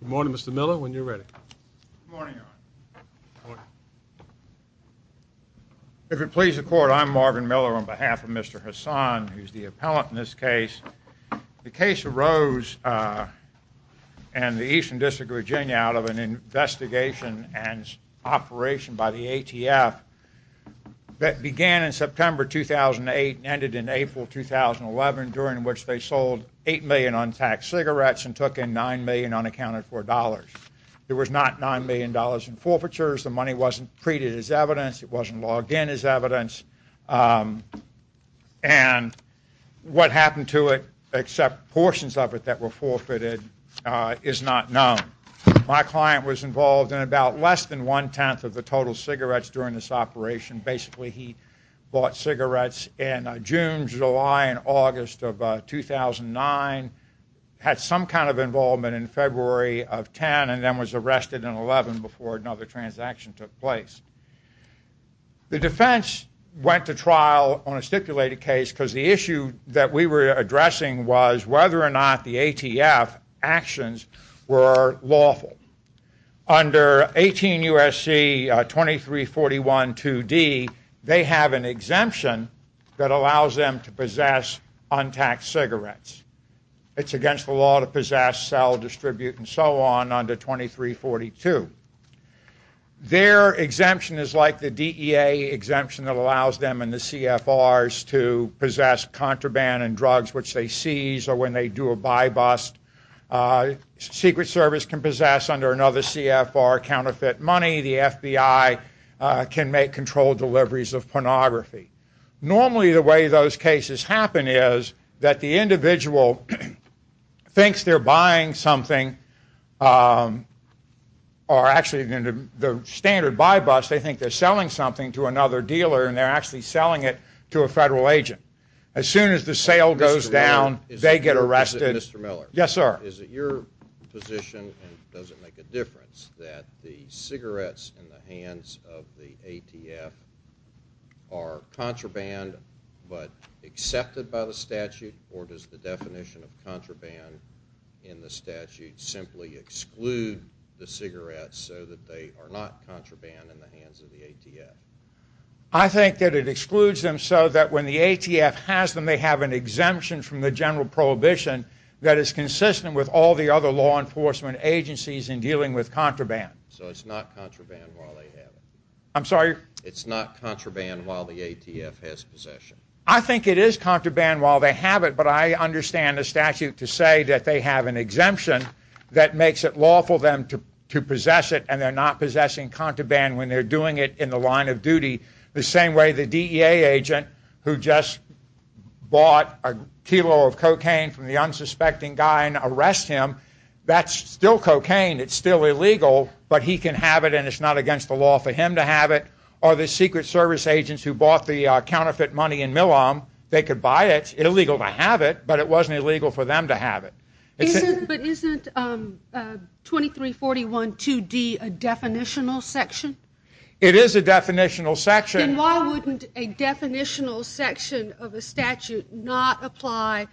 Good morning Mr. Miller when you're ready. If it pleases the court I'm Marvin Miller on behalf of Mr. Hasan who's the appellant in this case. The case arose in the Eastern District of Virginia out of an investigation and operation by the ATF that began in September 2008 and ended in April 2011 during which they cigarettes and took in nine million unaccounted for dollars. There was not nine million dollars in forfeitures. The money wasn't treated as evidence. It wasn't logged in as evidence and what happened to it except portions of it that were forfeited is not known. My client was involved in about less than one-tenth of the total cigarettes during this operation. Basically he bought in 2009, had some kind of involvement in February of 10 and then was arrested in 11 before another transaction took place. The defense went to trial on a stipulated case because the issue that we were addressing was whether or not the ATF actions were lawful. Under 18 USC 2341 2d they have an exemption that it's against the law to possess, sell, distribute and so on under 2342. Their exemption is like the DEA exemption that allows them and the CFRs to possess contraband and drugs which they seize or when they do a buy bust. Secret Service can possess under another CFR counterfeit money. The FBI can make controlled deliveries of pornography. Normally the way those cases happen is that the individual thinks they're buying something or actually the standard buy bust they think they're selling something to another dealer and they're actually selling it to a federal agent. As soon as the sale goes down they get arrested. Mr. Miller. Yes sir. Is it your position and does it make a difference that the cigarettes in the hands of the ATF are contraband but accepted by the statute or does the definition of contraband in the statute simply exclude the cigarettes so that they are not contraband in the hands of the ATF? I think that it excludes them so that when the ATF has them they have an exemption from the general prohibition that is consistent with all the other law enforcement agencies in dealing with contraband. So it's not contraband while they have it? I'm sorry. It's not contraband while the ATF has possession? I think it is contraband while they have it but I understand the statute to say that they have an exemption that makes it lawful them to possess it and they're not possessing contraband when they're doing it in the line of duty. The same way the DEA agent who just bought a kilo of cocaine from the unsuspecting guy and arrest him, that's still cocaine. It's still illegal but he can have it and it's not against the law for him to have it. Or the Secret Service agents who bought the counterfeit money in Milam, they could buy it, it's illegal to have it but it wasn't illegal for them to have it. But isn't 2341 2D a definitional section? It is a definitional section. Then why wouldn't a definitional section of a statute not apply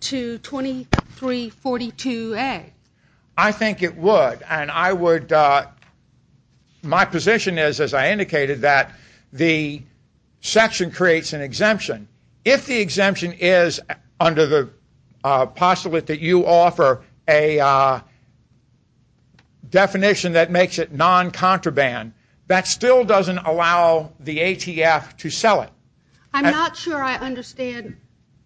to 2342A? I think it would and I would, my position is as I indicated that the section creates an exemption. If the exemption is under the postulate that you offer a definition that makes it non-contraband, that still doesn't allow the ATF to sell it. I'm not sure I understand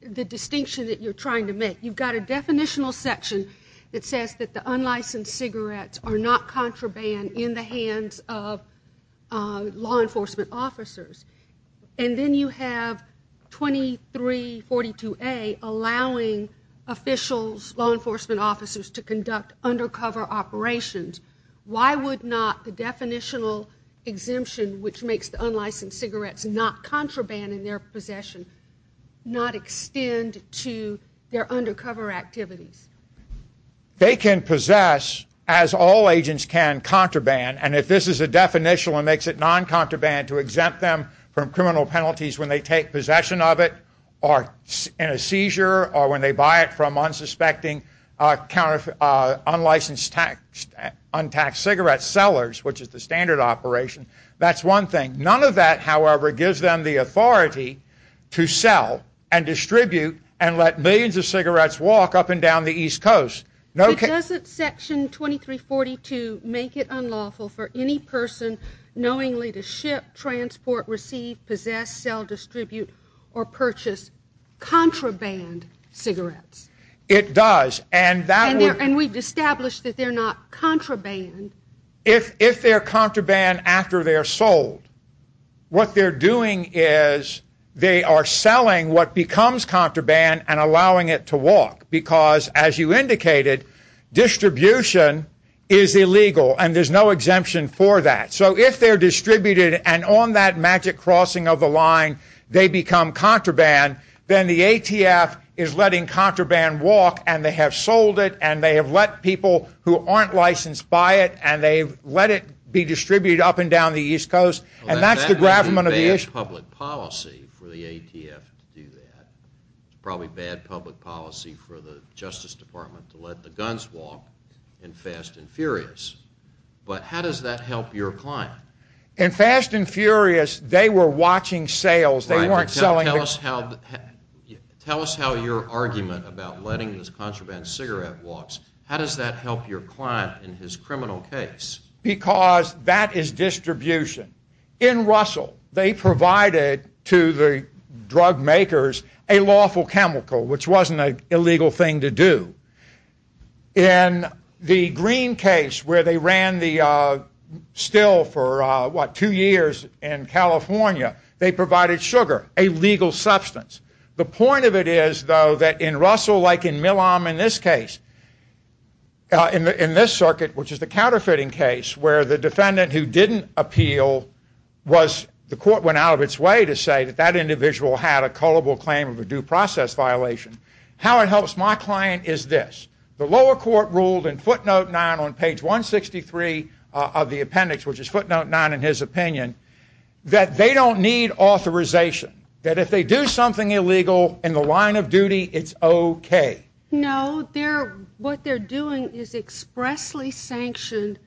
the distinction that you're trying to make. You've got a definitional section that says that the unlicensed and then you have 2342A allowing officials, law enforcement officers, to conduct undercover operations. Why would not the definitional exemption, which makes the unlicensed cigarettes not contraband in their possession, not extend to their undercover activities? They can possess, as all agents can, exempt them from criminal penalties when they take possession of it, or in a seizure, or when they buy it from unsuspecting unlicensed cigarette sellers, which is the standard operation. That's one thing. None of that however gives them the authority to sell and distribute and let millions of cigarettes walk up and down the East Coast. Doesn't section 2342 make it unlawful for any person knowingly to ship, transport, receive, possess, sell, distribute, or purchase contraband cigarettes? It does. And we've established that they're not contraband. If they're contraband after they're sold, what they're doing is they are selling what becomes contraband and allowing it to walk, because as you indicated, distribution is illegal and there's no exemption for that. So if they're distributed and on that magic crossing of the line they become contraband, then the ATF is letting contraband walk and they have sold it and they have let people who aren't licensed buy it and they let it be distributed up and down the East Coast and that's the gravamen of the issue. That would be bad public policy for the ATF to do that. Probably bad public policy for the Justice Department to let the guns walk in Fast and Furious, but how does that help your client? In Fast and Furious, they were watching sales. They weren't selling... Tell us how your argument about letting this contraband cigarette walks, how does that help your client in his criminal case? Because that is distribution. In Russell, they provided to the drug makers a lawful chemical, which wasn't an illegal thing to do. In the Green case, where they ran the still for what, two years in California, they provided sugar, a legal substance. The point of it is, though, that in Russell, like in Milam in this case, in this circuit, which is the counterfeiting case, where the defendant who didn't appeal was... the court went out of its way to say that that individual had a culpable claim of a due process violation. How it helps my client is this. The lower court ruled in footnote 9 on page 163 of the appendix, which is footnote 9 in his opinion, that they don't need authorization. That if they do something illegal in the line of duty, it's okay. No, what they're doing is expressly sanctioned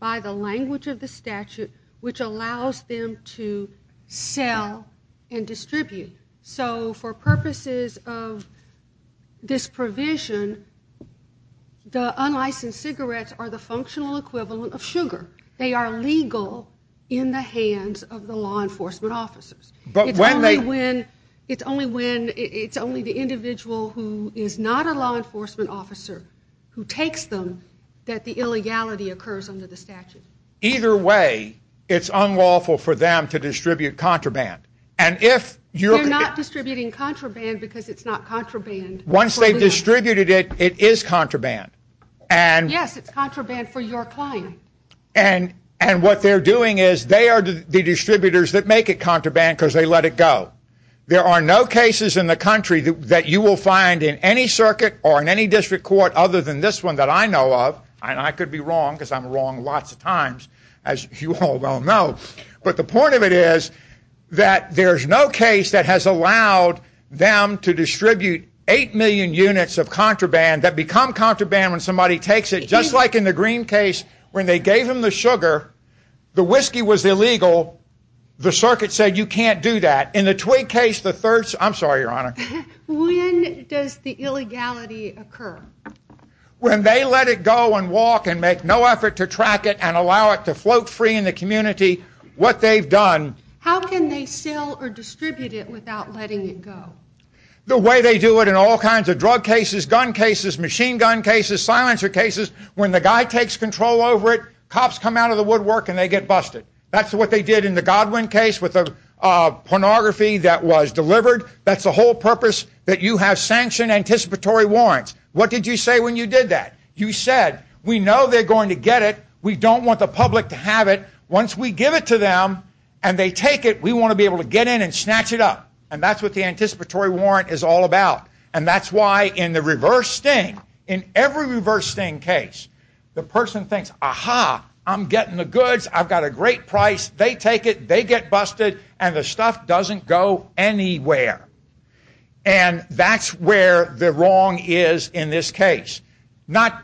by the language of the statute, which allows them to sell and distribute. So for purposes of this provision, the unlicensed cigarettes are the functional equivalent of sugar. They are legal in the hands of the law enforcement officers. But when they... It's only when... it's only the individual who is not a law enforcement officer who takes them, that the illegality occurs under the statute. Either way, it's unlawful for them to And if you're... They're not distributing contraband because it's not contraband. Once they've distributed it, it is contraband. And... Yes, it's contraband for your client. And what they're doing is they are the distributors that make it contraband because they let it go. There are no cases in the country that you will find in any circuit or in any district court other than this one that I know of, and I could be wrong because I'm wrong lots of times, as you all well know. But the point of it is that there's no case that has allowed them to distribute eight million units of contraband that become contraband when somebody takes it. Just like in the Green case, when they gave him the sugar, the whiskey was illegal, the circuit said you can't do that. In the Twig case, the third... I'm sorry, Your Honor. When does the illegality occur? When they let it go and walk and make no effort to track it and allow it to float free in the community. What they've done... How can they sell or distribute it without letting it go? The way they do it in all kinds of drug cases, gun cases, machine gun cases, silencer cases, when the guy takes control over it, cops come out of the woodwork and they get busted. That's what they did in the Godwin case with a pornography that was delivered. That's the whole purpose that you have sanctioned anticipatory warrants. What did you say when you did that? You said, we know they're going to get it, we don't want the public to have it, once we give it to them and they take it, we want to be able to get in and snatch it up. And that's what the anticipatory warrant is all about. And that's why in the reverse sting, in every reverse sting case, the person thinks, aha, I'm getting the goods, I've got a great price, they take it, they get busted, and the stuff doesn't go anywhere. And that's where the wrong is in this case. Not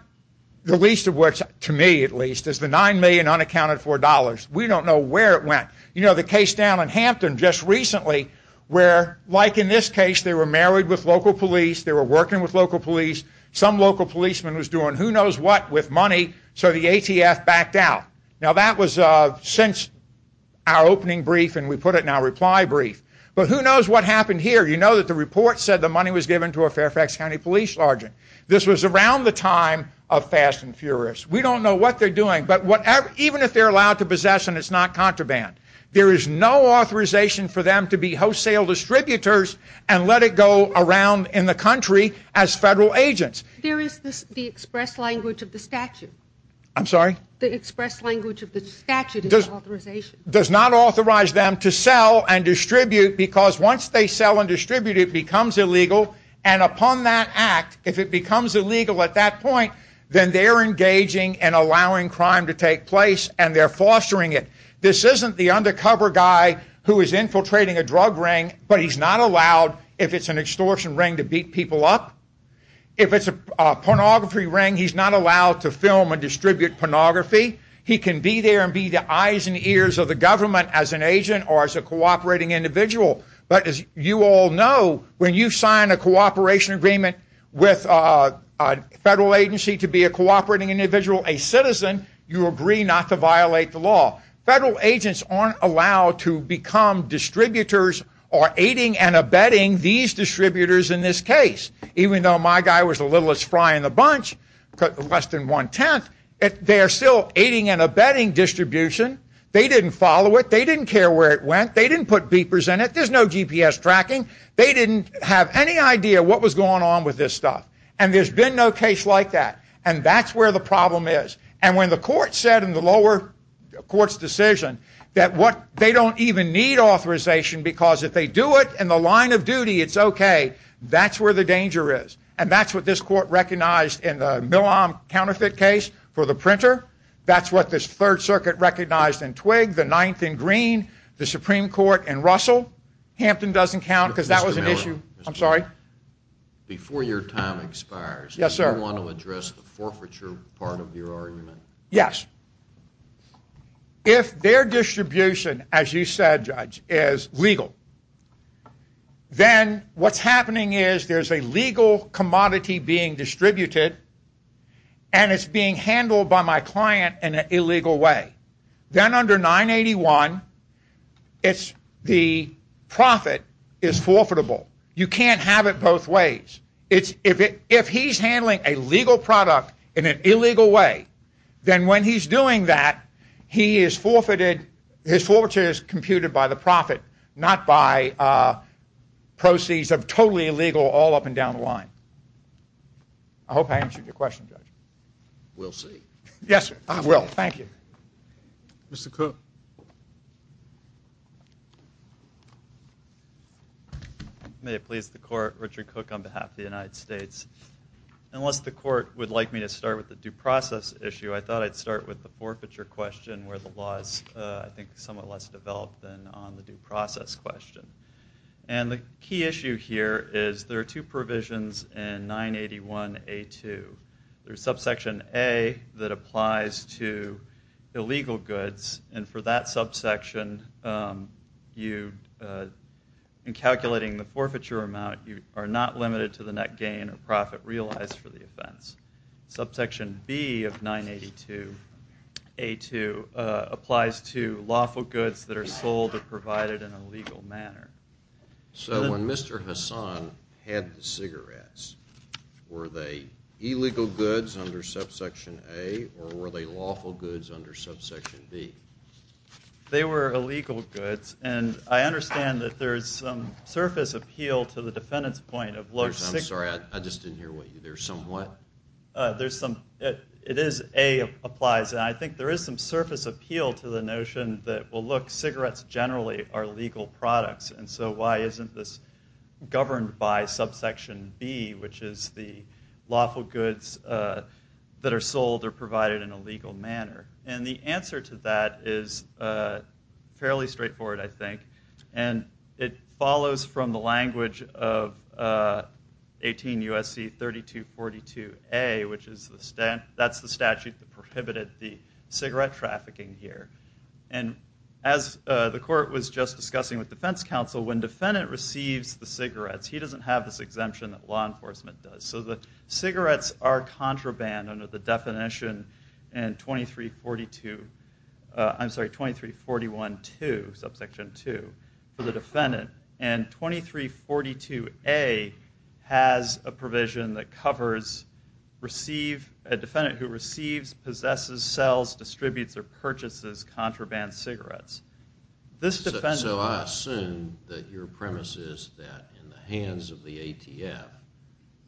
the least of which, to me at least, is the $9 million unaccounted for dollars. We don't know where it went. You know the case down in Hampton just recently, where like in this case, they were married with local police, they were working with local police, some local policeman was doing who knows what with money, so the ATF backed out. Now that was since our opening brief and we put it in our reply brief. But who knows what happened here? You know that the report said the money was given to a Fairfax County police sergeant. This was around the time of Fast and Furious. We don't know what they're doing, but even if they're allowed to possess and it's not contraband, there is no authorization for them to be wholesale distributors and let it go around in the country as federal agents. There is the express language of the statute. I'm sorry? The express language of the statute does not authorize them to sell and distribute because once they sell and distribute it becomes illegal and upon that act, if it becomes illegal at that point, then they're engaging and allowing crime to take place and they're fostering it. This isn't the undercover guy who is infiltrating a drug ring but he's not allowed, if it's an extortion ring, to beat people up. If it's a pornography ring, he's not allowed to film and distribute pornography. He can be there and be the eyes and ears of the government as an agent or as a cooperating individual. But as you all know, when you sign a cooperation agreement with a federal agency to be a cooperating individual, a citizen, you agree not to violate the law. Federal agents aren't allowed to become distributors or aiding and abetting these distributors in this case, even though my guy was a little as fry in the bunch, but less than one-tenth, they are still aiding and abetting distribution. They didn't follow it. They didn't care where it went. They didn't put beepers in it. There's no GPS tracking. They didn't have any idea what was going on with this stuff and there's been no case like that and that's where the problem is. And when the court said in the lower court's decision that what they don't even need authorization because if they do it in the line of duty it's okay, that's where the danger is. And that's what this court recognized in the Milam counterfeit case for the printer. That's what this Third Circuit recognized in Twig, the Ninth in Green, the Supreme Court, and Russell. Hampton doesn't count because that was an issue. I'm sorry? Before your time expires, do you want to address the forfeiture part of your argument? Yes. If their distribution, as you said, Judge, is legal, then what's legal commodity being distributed and it's being handled by my client in an illegal way, then under 981, it's the profit is forfeitable. You can't have it both ways. If he's handling a legal product in an illegal way, then when he's doing that, his forfeiture is computed by the profit, not by proceeds of totally legal all up and down the line. I hope I answered your question, Judge. We'll see. Yes, I will. Thank you. Mr. Cook. May it please the court, Richard Cook on behalf of the United States. Unless the court would like me to start with the due process issue, I thought I'd start with the forfeiture question where the law is, I think, somewhat less developed than on the due process question. And the key issue here is there are two provisions in 981A2. There's subsection A that applies to illegal goods, and for that subsection, in calculating the forfeiture amount, you are not limited to the net gain or profit realized for the offense. Subsection B of 982A2 applies to lawful goods that are sold or Mr. Hassan had the cigarettes. Were they illegal goods under subsection A, or were they lawful goods under subsection B? They were illegal goods, and I understand that there is some surface appeal to the defendant's point of low... I'm sorry, I just didn't hear what you... there's some what? There's some... it is A applies, and I think there is some surface appeal to the notion that, well, look, cigarettes generally are legal products, and so why isn't this governed by subsection B, which is the lawful goods that are sold or provided in a legal manner? And the answer to that is fairly straightforward, I think, and it follows from the language of 18 U.S.C. 3242A, which is the statute that prohibited the court was just discussing with defense counsel, when defendant receives the cigarettes, he doesn't have this exemption that law enforcement does. So the cigarettes are contraband under the definition in 2342... I'm sorry, 2341-2, subsection 2, for the defendant, and 2342A has a provision that covers receive... a defendant who receives, possesses, sells, distributes, or purchases contraband cigarettes. This defendant... So I assume that your premise is that in the hands of the ATF,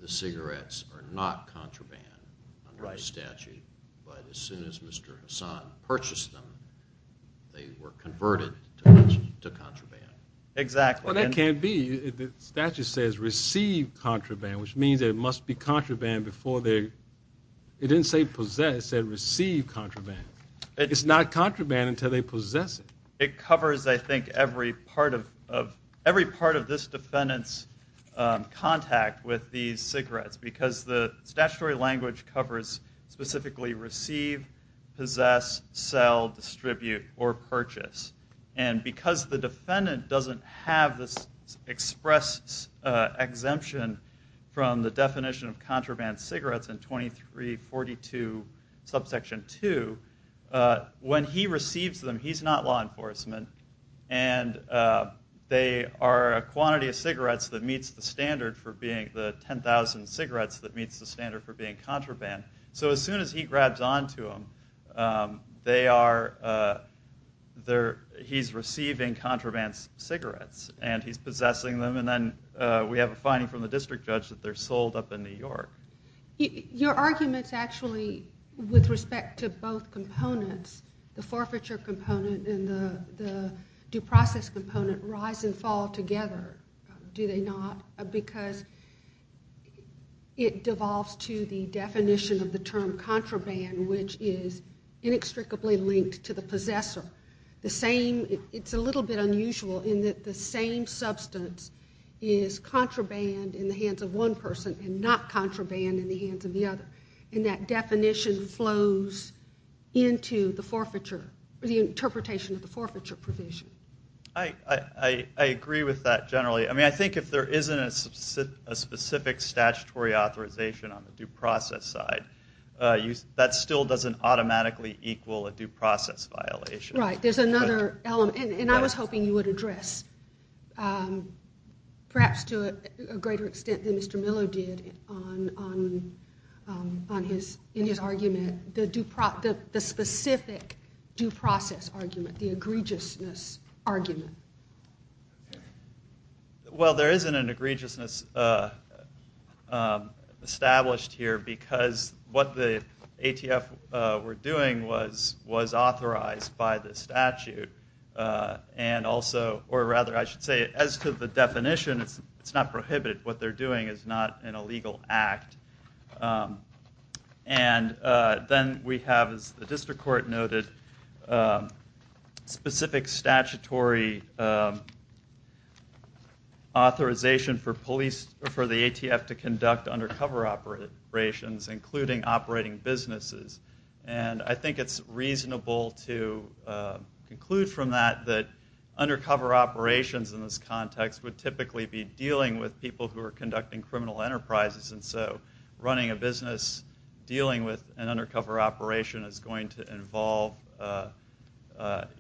the cigarettes are not contraband under the statute, but as soon as Mr. Hassan purchased them, they were converted to contraband. Exactly. Well, that can't be. The statute says receive contraband, which means there must be contraband before they... it didn't say possess, it said receive contraband. It's not contraband until they possess it. It covers, I think, every part of... every part of this defendant's contact with these cigarettes, because the statutory language covers specifically receive, possess, sell, distribute, or purchase. And because the defendant doesn't have this express exemption from the definition of he's not law enforcement, and they are a quantity of cigarettes that meets the standard for being... the 10,000 cigarettes that meets the standard for being contraband. So as soon as he grabs on to them, they are... they're... he's receiving contraband cigarettes, and he's possessing them, and then we have a finding from the district judge that they're sold up in New York. Your arguments actually, with respect to both components, the forfeiture component and the due process component, rise and fall together, do they not? Because it devolves to the definition of the term contraband, which is inextricably linked to the possessor. The same... it's a little bit unusual in that the same substance is contraband in the hands of one person and not contraband in the hands of the other. And that definition flows into the forfeiture, or the interpretation of the forfeiture provision. I agree with that generally. I mean, I think if there isn't a specific statutory authorization on the due process side, that still doesn't automatically equal a due process violation. Right, there's another element, and I was hoping you would address, perhaps to a greater extent than in his argument, the specific due process argument, the egregiousness argument. Well, there isn't an egregiousness established here because what the ATF were doing was authorized by the statute, and also, or rather, I should say, as to the definition, it's not prohibited. What they're doing is not an illegal act. And then we have, as the district court noted, specific statutory authorization for police, for the ATF to conduct undercover operations, including operating businesses. And I think it's reasonable to conclude from that, that undercover operations in this context would typically be dealing with people who are conducting criminal enterprises. And so, running a business dealing with an undercover operation is going to involve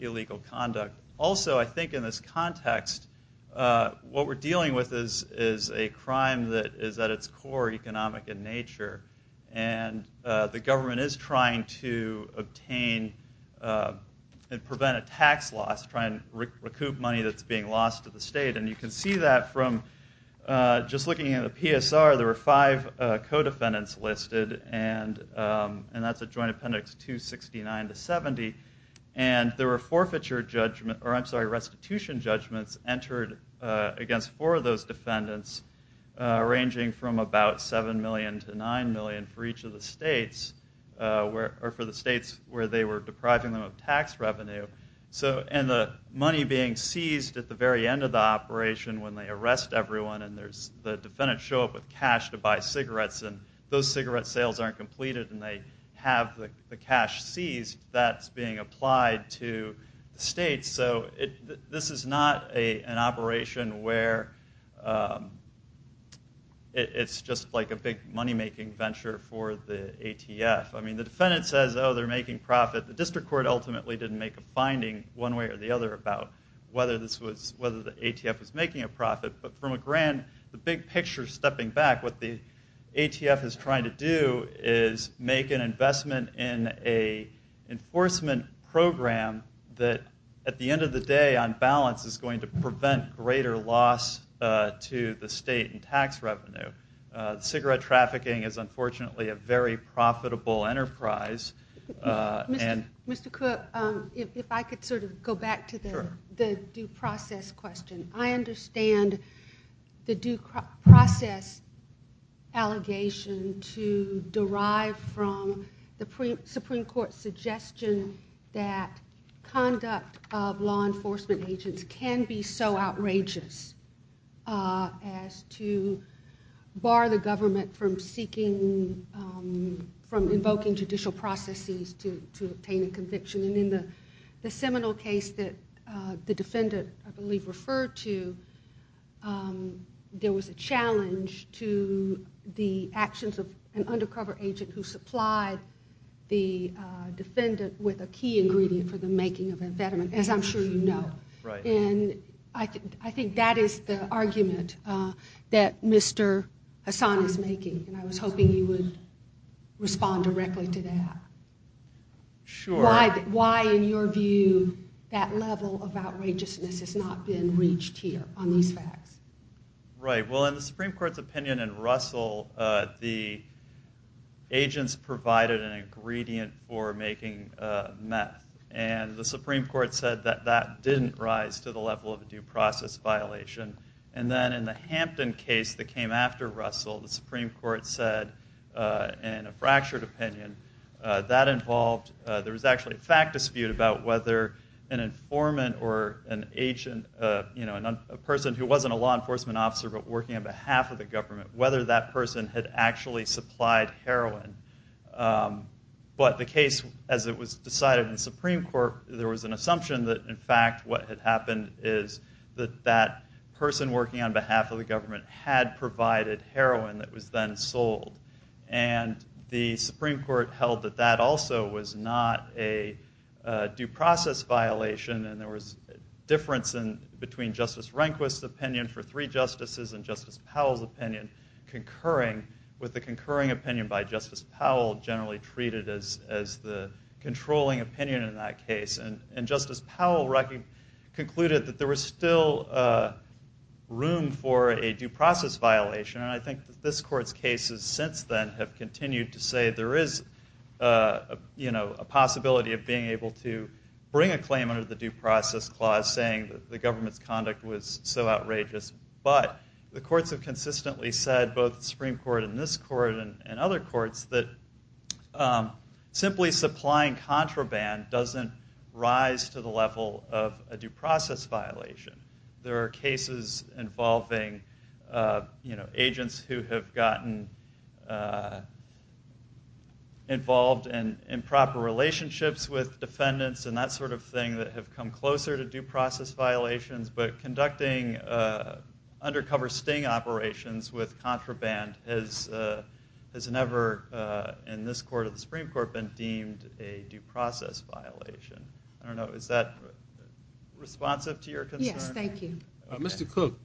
illegal conduct. Also, I think in this context, what we're dealing with is a crime that is at its core economic in nature, and the government is trying to obtain and prevent a tax loss, trying to recoup money that's being lost to the state. And you can see that from just looking at the PSR, there were five co-defendants listed, and that's a joint appendix 269 to 70. And there were restitution judgments entered against four of those defendants, ranging from about $7 million to $9 million for each of the states, or for the states where they were depriving them of tax revenue. And the money being seized at the very end of the operation when they arrest everyone, and the defendants show up with cash to buy cigarettes, and those cigarette sales aren't completed, and they have the cash seized, that's being applied to the states. So, this is not an operation where it's just like a big money-making venture for the ATF. I mean, the defendant says, oh, they're making profit. The district court ultimately didn't make a finding one way or the other about whether the ATF was making a profit. But from a grand, the big picture stepping back, what the ATF is trying to do is make an investment in a enforcement program that, at the end of the day, on balance, is going to prevent greater loss to the state in tax revenue. Cigarette trafficking is, unfortunately, a very profitable enterprise, and... Mr. Cook, if I could sort of go back to the due process question. I understand the due process allegation to derive from the Supreme Court's suggestion that conduct of law enforcement agents can be so outrageous as to bar the government from seeking, from invoking judicial processes to obtain a conviction. And in the seminal case that the defendant, I believe, referred to, there was a challenge to the actions of an undercover agent who supplied the defendant with a key ingredient for the making of a veteran, as I'm sure you Hassan is making, and I was hoping you would respond directly to that. Sure. Why, in your view, that level of outrageousness has not been reached here on these facts? Right. Well, in the Supreme Court's opinion in Russell, the agents provided an ingredient for making meth, and the Supreme Court said that that didn't rise to the level of a due process violation. And then in the Hampton case that came after Russell, the Supreme Court said, in a fractured opinion, that involved, there was actually a fact dispute about whether an informant or an agent, you know, a person who wasn't a law enforcement officer but working on behalf of the government, whether that person had actually supplied heroin. But the case, as it was decided in Supreme Court, there was an assumption that, in fact, what had happened is that that person working on behalf of the government had provided heroin that was then sold. And the Supreme Court held that that also was not a due process violation, and there was difference between Justice Rehnquist's opinion for three justices and Justice Powell's opinion, concurring with the concurring opinion by Justice Powell, generally treated as the controlling opinion in that case. And Justice Powell concluded that there was still room for a due process violation, and I think that this court's cases since then have continued to say there is, you know, a possibility of being able to bring a claim under the due process clause, saying that the government's conduct was so outrageous. But the courts have consistently said, both the Supreme Court and this court and other courts, that simply supplying contraband doesn't rise to the level of a due process violation. There are cases involving, you know, agents who have gotten involved in improper relationships with defendants and that sort of thing that have come closer to due process violations, but conducting undercover sting operations with contraband has never, in this court of the Supreme Court, been deemed a due process violation. I don't know, is that responsive to your concern? Yes, thank you. Mr. Cook,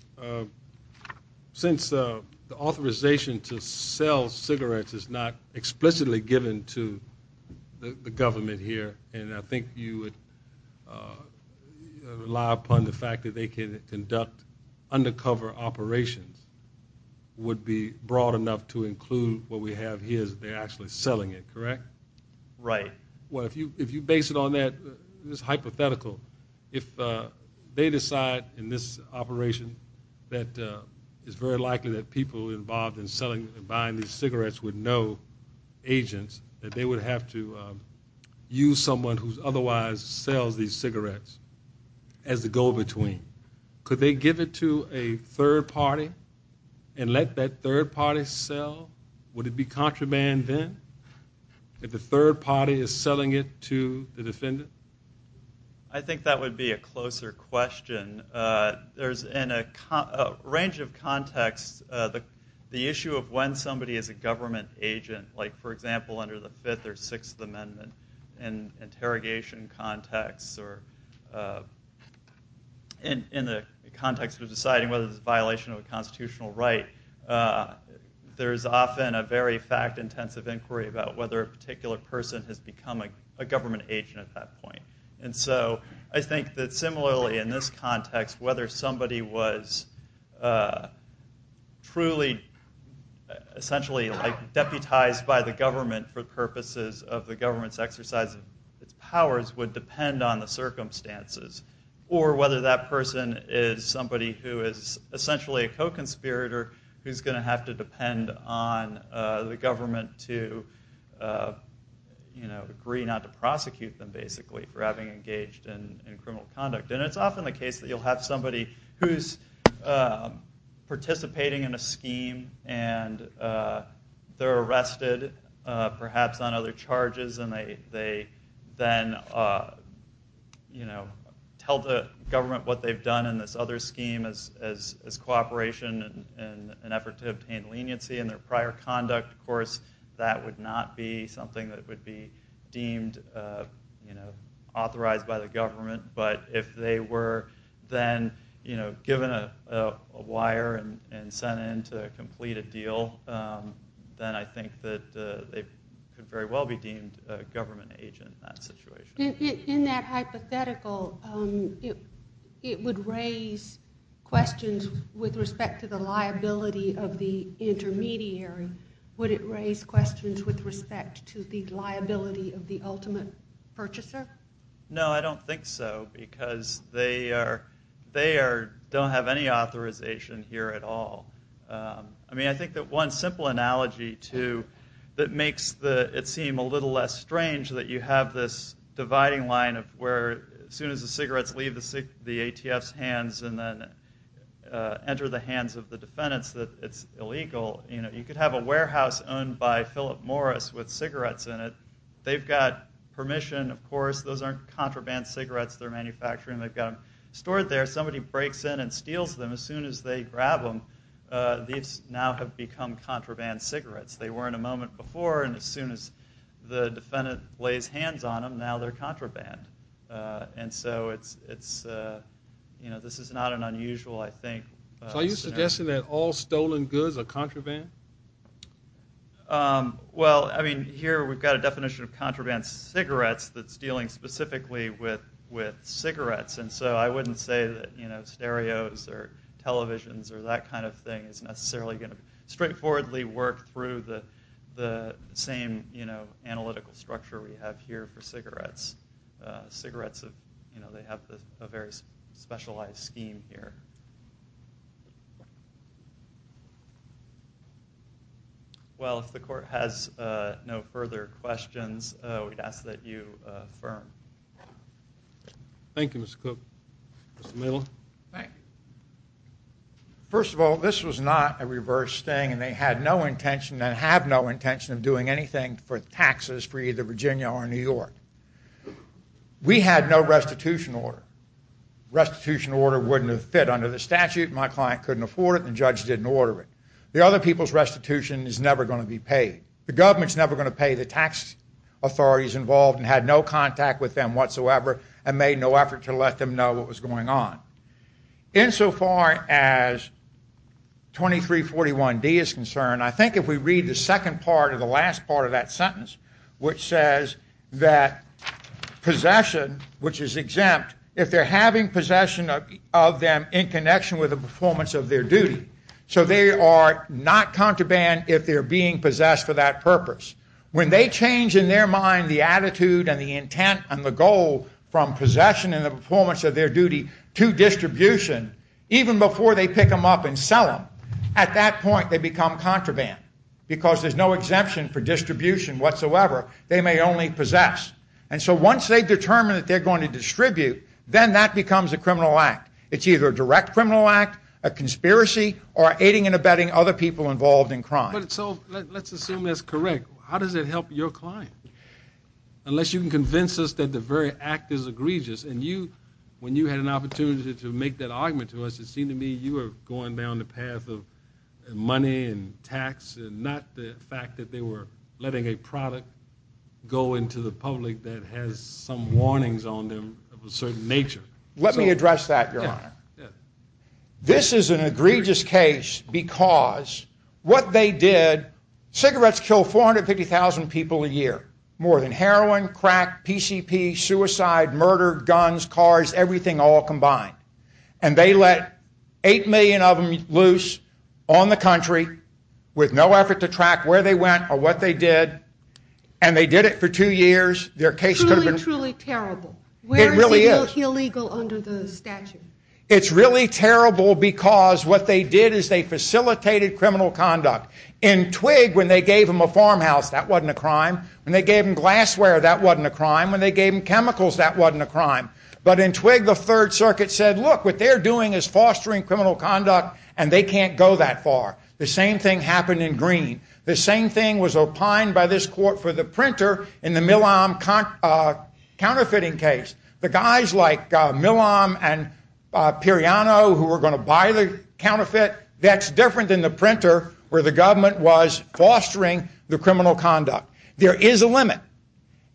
since the authorization to sell cigarettes is not explicitly given to the government here, and I think you would rely upon the fact that they can conduct undercover operations would be broad enough to include what we have here is they're actually selling it, correct? Right. Well, if you if you base it on that, this hypothetical, if they decide in this operation that it's very likely that people involved in selling and buying these cigarettes would know agents that they would have to use someone who's otherwise sells these cigarettes as the go-between, could they give it to a third party and let that third party sell? Would it be contraband then if the third party is selling it to the defendant? I think that would be a closer question. There's in a range of contexts the issue of when somebody is a government agent, like for example under the Fifth or Sixth Amendment and interrogation context or in the context of deciding whether it's a violation of a constitutional right, there's often a very fact-intensive inquiry about whether a particular person has become a government agent at that point. And so I think that similarly in this context, whether somebody was truly essentially deputized by the government for purposes of the government's exercise of its responsibility, would depend on the circumstances. Or whether that person is somebody who is essentially a co-conspirator who's going to have to depend on the government to, you know, agree not to prosecute them basically for having engaged in criminal conduct. And it's often the case that you'll have somebody who's participating in a scheme and they're arrested perhaps on other you know, tell the government what they've done in this other scheme as cooperation in an effort to obtain leniency in their prior conduct. Of course that would not be something that would be deemed, you know, authorized by the government. But if they were then, you know, given a wire and sent in to complete a deal, then I think that they could very well be deemed a government agent in that situation. In that hypothetical, it would raise questions with respect to the liability of the intermediary. Would it raise questions with respect to the liability of the ultimate purchaser? No, I don't think so because they don't have any authorization here at all. I mean, I think that one simple analogy, too, that makes it seem a little less strange that you have this dividing line of where as soon as the cigarettes leave the ATF's hands and then enter the hands of the defendants that it's illegal. You know, you could have a warehouse owned by Philip Morris with cigarettes in it. They've got permission, of course, those aren't contraband cigarettes they're manufacturing. They've got them stored there. Somebody breaks in and steals them as soon as they grab them. These now have become contraband cigarettes. They were in a moment before and as soon as the defendant lays hands on them, now they're contraband. And so it's, you know, this is not an unusual, I think. So are you suggesting that all stolen goods are contraband? Well, I mean, here we've got a definition of contraband cigarettes that's dealing specifically with cigarettes. And so I wouldn't say that, you know, stereos or televisions or that kind of thing is necessarily going to straightforwardly work through the same, you know, analytical structure we have here for cigarettes. Cigarettes, you know, they have a very specialized scheme here. Well, if the court has no further questions, we'd ask that you affirm. Thank you, Mr. Cook. Mr. Middleton? First of all, this was not a reverse thing and they had no intention and have no intention of doing anything for taxes for either Virginia or New York. We had no restitution order. Restitution order wouldn't have fit under the statute. My client couldn't afford it and the judge didn't order it. The other people's restitution is never going to be paid. The government's never going to pay the tax authorities involved and had no contact with them whatsoever and made no effort to let them know what was going on. Insofar as 2341 D is concerned, I think if we read the second part of the last part of that sentence, which says that possession, which is exempt, if they're having possession of them in connection with the performance of their duty, so they are not contraband if they're being possessed for that purpose. When they change in their mind the attitude and the intent and the goal from possession and the performance of their duty to distribution, even before they pick them up and sell them, at that point they become contraband because there's no exemption for distribution whatsoever. They may only possess. And so once they determine that they're going to distribute, then that becomes a criminal act. It's either a direct criminal act, a conspiracy, or aiding and abetting other people involved in crime. So let's assume that's correct. How does that help your client? Unless you can convince us that the very act is egregious. And you, when you had an opportunity to make that argument to us, it seemed to me you were going down the path of money and tax and not the fact that they were letting a product go into the public that has some warnings on them of a certain nature. Let me address that, Your Honor. This is an egregious case because what they did, cigarettes kill 450,000 people a year. More than heroin, crack, PCP, suicide, murder, guns, cars, everything all combined. And they let eight million of them loose on the country with no effort to track where they went or what they did. And they did it for two years. Their case could have been... Truly, truly terrible. It really is. Where is it illegal under the statute? It's really terrible because what they did is they facilitated criminal conduct. In Twig, when they gave them a farmhouse, that wasn't a crime. When they gave them glassware, that wasn't a crime. When they gave them chemicals, that wasn't a crime. But in Twig, the Third Circuit said, look, what they're doing is fostering criminal conduct and they can't go that far. The same thing happened in Greene. The same thing was opined by this court for the printer in the Milam counterfeiting case. The guys like Milam and Piriano who were going to buy the counterfeit, that's different than the printer where the government was fostering the criminal conduct. There is a limit.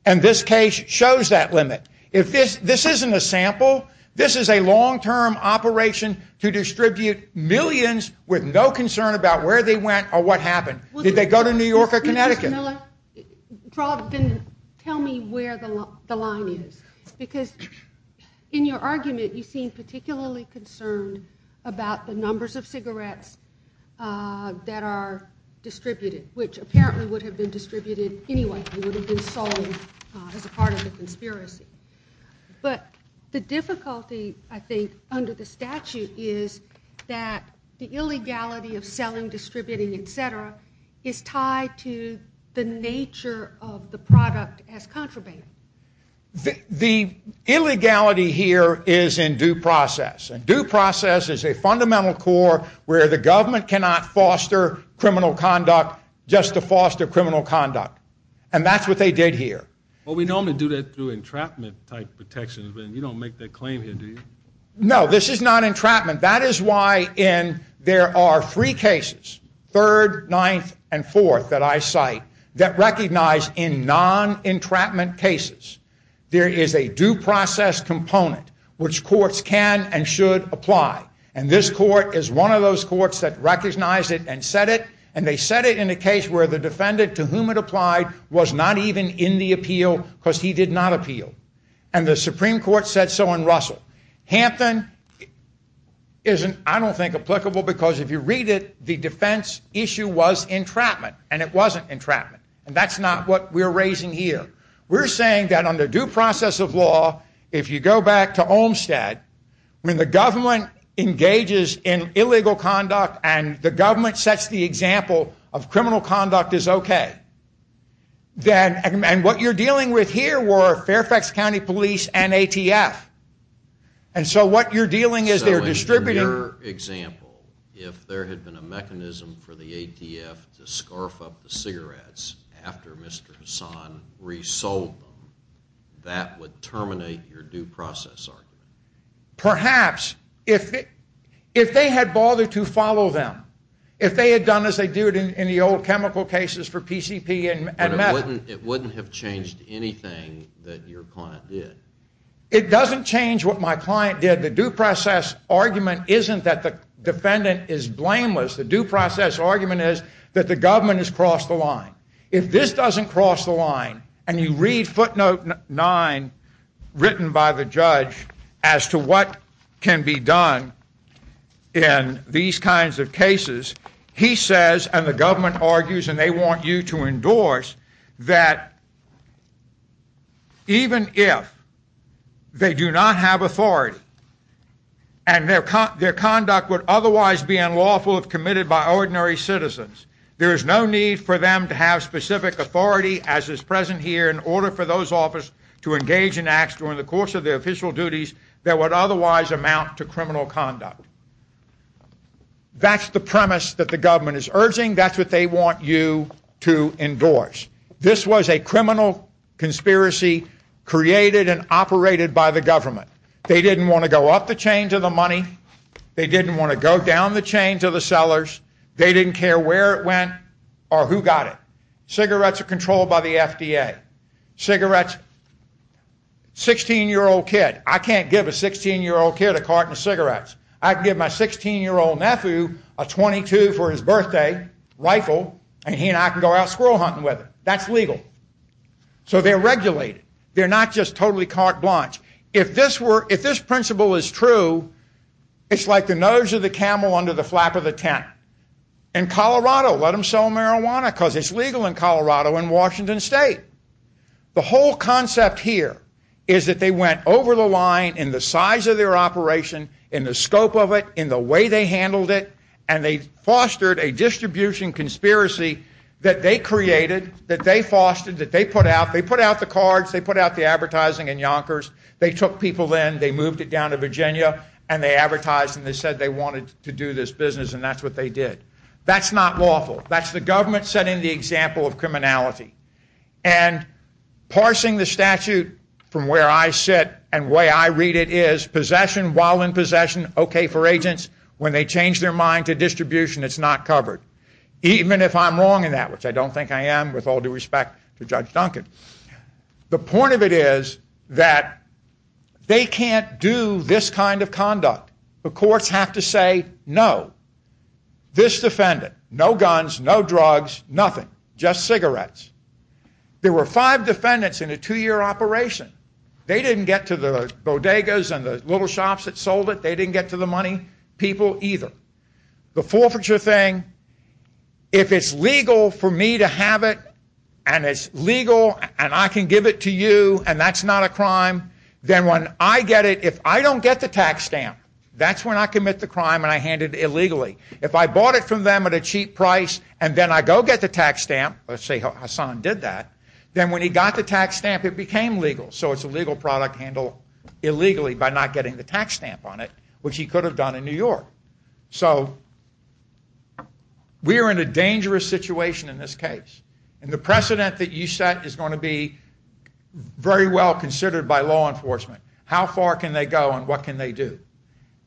And this case shows that limit. If this isn't a sample, this is a long-term operation to distribute millions with no concern about where they went or what happened. Did they go to New York or Connecticut? Tell me where the line is. Because in your argument, you seem particularly concerned about the numbers of cigarettes that are distributed, which apparently would have been distributed anyway. They would have been sold as a part of the conspiracy. But the difficulty, I think, under the statute is that the nature of the product has contraband. The illegality here is in due process. And due process is a fundamental core where the government cannot foster criminal conduct just to foster criminal conduct. And that's what they did here. Well, we normally do that through entrapment type protections, but you don't make that claim here, do you? No, this is not entrapment. That is why in there are three cases, third, ninth, and fourth that I cite, that recognize in non-entrapment cases, there is a due process component which courts can and should apply. And this court is one of those courts that recognized it and said it. And they said it in a case where the defendant to whom it applied was not even in the appeal because he did not appeal. And the Supreme Court said so in Russell. Hampton isn't, I don't think, applicable because if you read it, the defense issue was entrapment and it wasn't entrapment. And that's not what we're raising here. We're saying that under due process of law, if you go back to Olmstead, when the government engages in illegal conduct and the government sets the example of criminal conduct is okay, then and what you're dealing with here were Fairfax County Police and ATF. And so what you're dealing is they're distributing... So in your example, if there had been a mechanism for the ATF to scarf up the cigarettes after Mr. Hassan resold them, that would terminate your due process argument? Perhaps. If they had bothered to follow them, if they had done as they do it in the old chemical cases for PCP and metal... But it wouldn't have changed anything that your client did. It doesn't change what my client did. The due process argument isn't that the defendant is blameless. The due process argument is that the government has crossed the line. If this doesn't cross the line, and you read footnote 9 written by the judge as to what can be done in these kinds of cases, even if they do not have authority and their conduct would otherwise be unlawful if committed by ordinary citizens, there is no need for them to have specific authority as is present here in order for those officers to engage in acts during the course of their official duties that would otherwise amount to criminal conduct. That's the premise that the government is urging. That's what they want you to endorse. This was a criminal conspiracy created and operated by the government. They didn't want to go up the chain to the money. They didn't want to go down the chain to the sellers. They didn't care where it went or who got it. Cigarettes are controlled by the FDA. Cigarettes... 16 year old kid... I can't give a 16 year old kid a carton of rifle and he and I can go out squirrel hunting with it. That's legal. So they're regulated. They're not just totally carte blanche. If this principle is true, it's like the nose of the camel under the flap of the tent. In Colorado, let them sell marijuana because it's legal in Colorado and Washington State. The whole concept here is that they went over the line in the size of their operation, in the scope of it, in the way they handled it, and they fostered a distribution conspiracy that they created, that they fostered, that they put out. They put out the cards. They put out the advertising and yonkers. They took people in. They moved it down to Virginia and they advertised and they said they wanted to do this business and that's what they did. That's not lawful. That's the government setting the example of criminality. And parsing the statute from where I sit and way I read it is possession while in possession, okay for even if I'm wrong in that, which I don't think I am with all due respect to Judge Duncan. The point of it is that they can't do this kind of conduct. The courts have to say no. This defendant, no guns, no drugs, nothing, just cigarettes. There were five defendants in a two-year operation. They didn't get to the bodegas and the little shops that sold it. They didn't get to the money people either. The forfeiture thing, if it's legal for me to have it and it's legal and I can give it to you and that's not a crime, then when I get it, if I don't get the tax stamp, that's when I commit the crime and I hand it illegally. If I bought it from them at a cheap price and then I go get the tax stamp, let's say Hassan did that, then when he got the tax stamp it became legal. So it's a legal product handle illegally by not getting the tax stamp on it, which he could have done in So we are in a dangerous situation in this case and the precedent that you set is going to be very well considered by law enforcement. How far can they go and what can they do?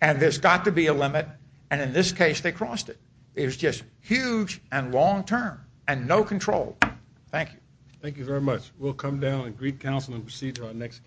And there's got to be a limit and in this case they crossed it. It was just huge and long term and no control. Thank you. Thank you very much. We'll come down and greet counsel and proceed to our next.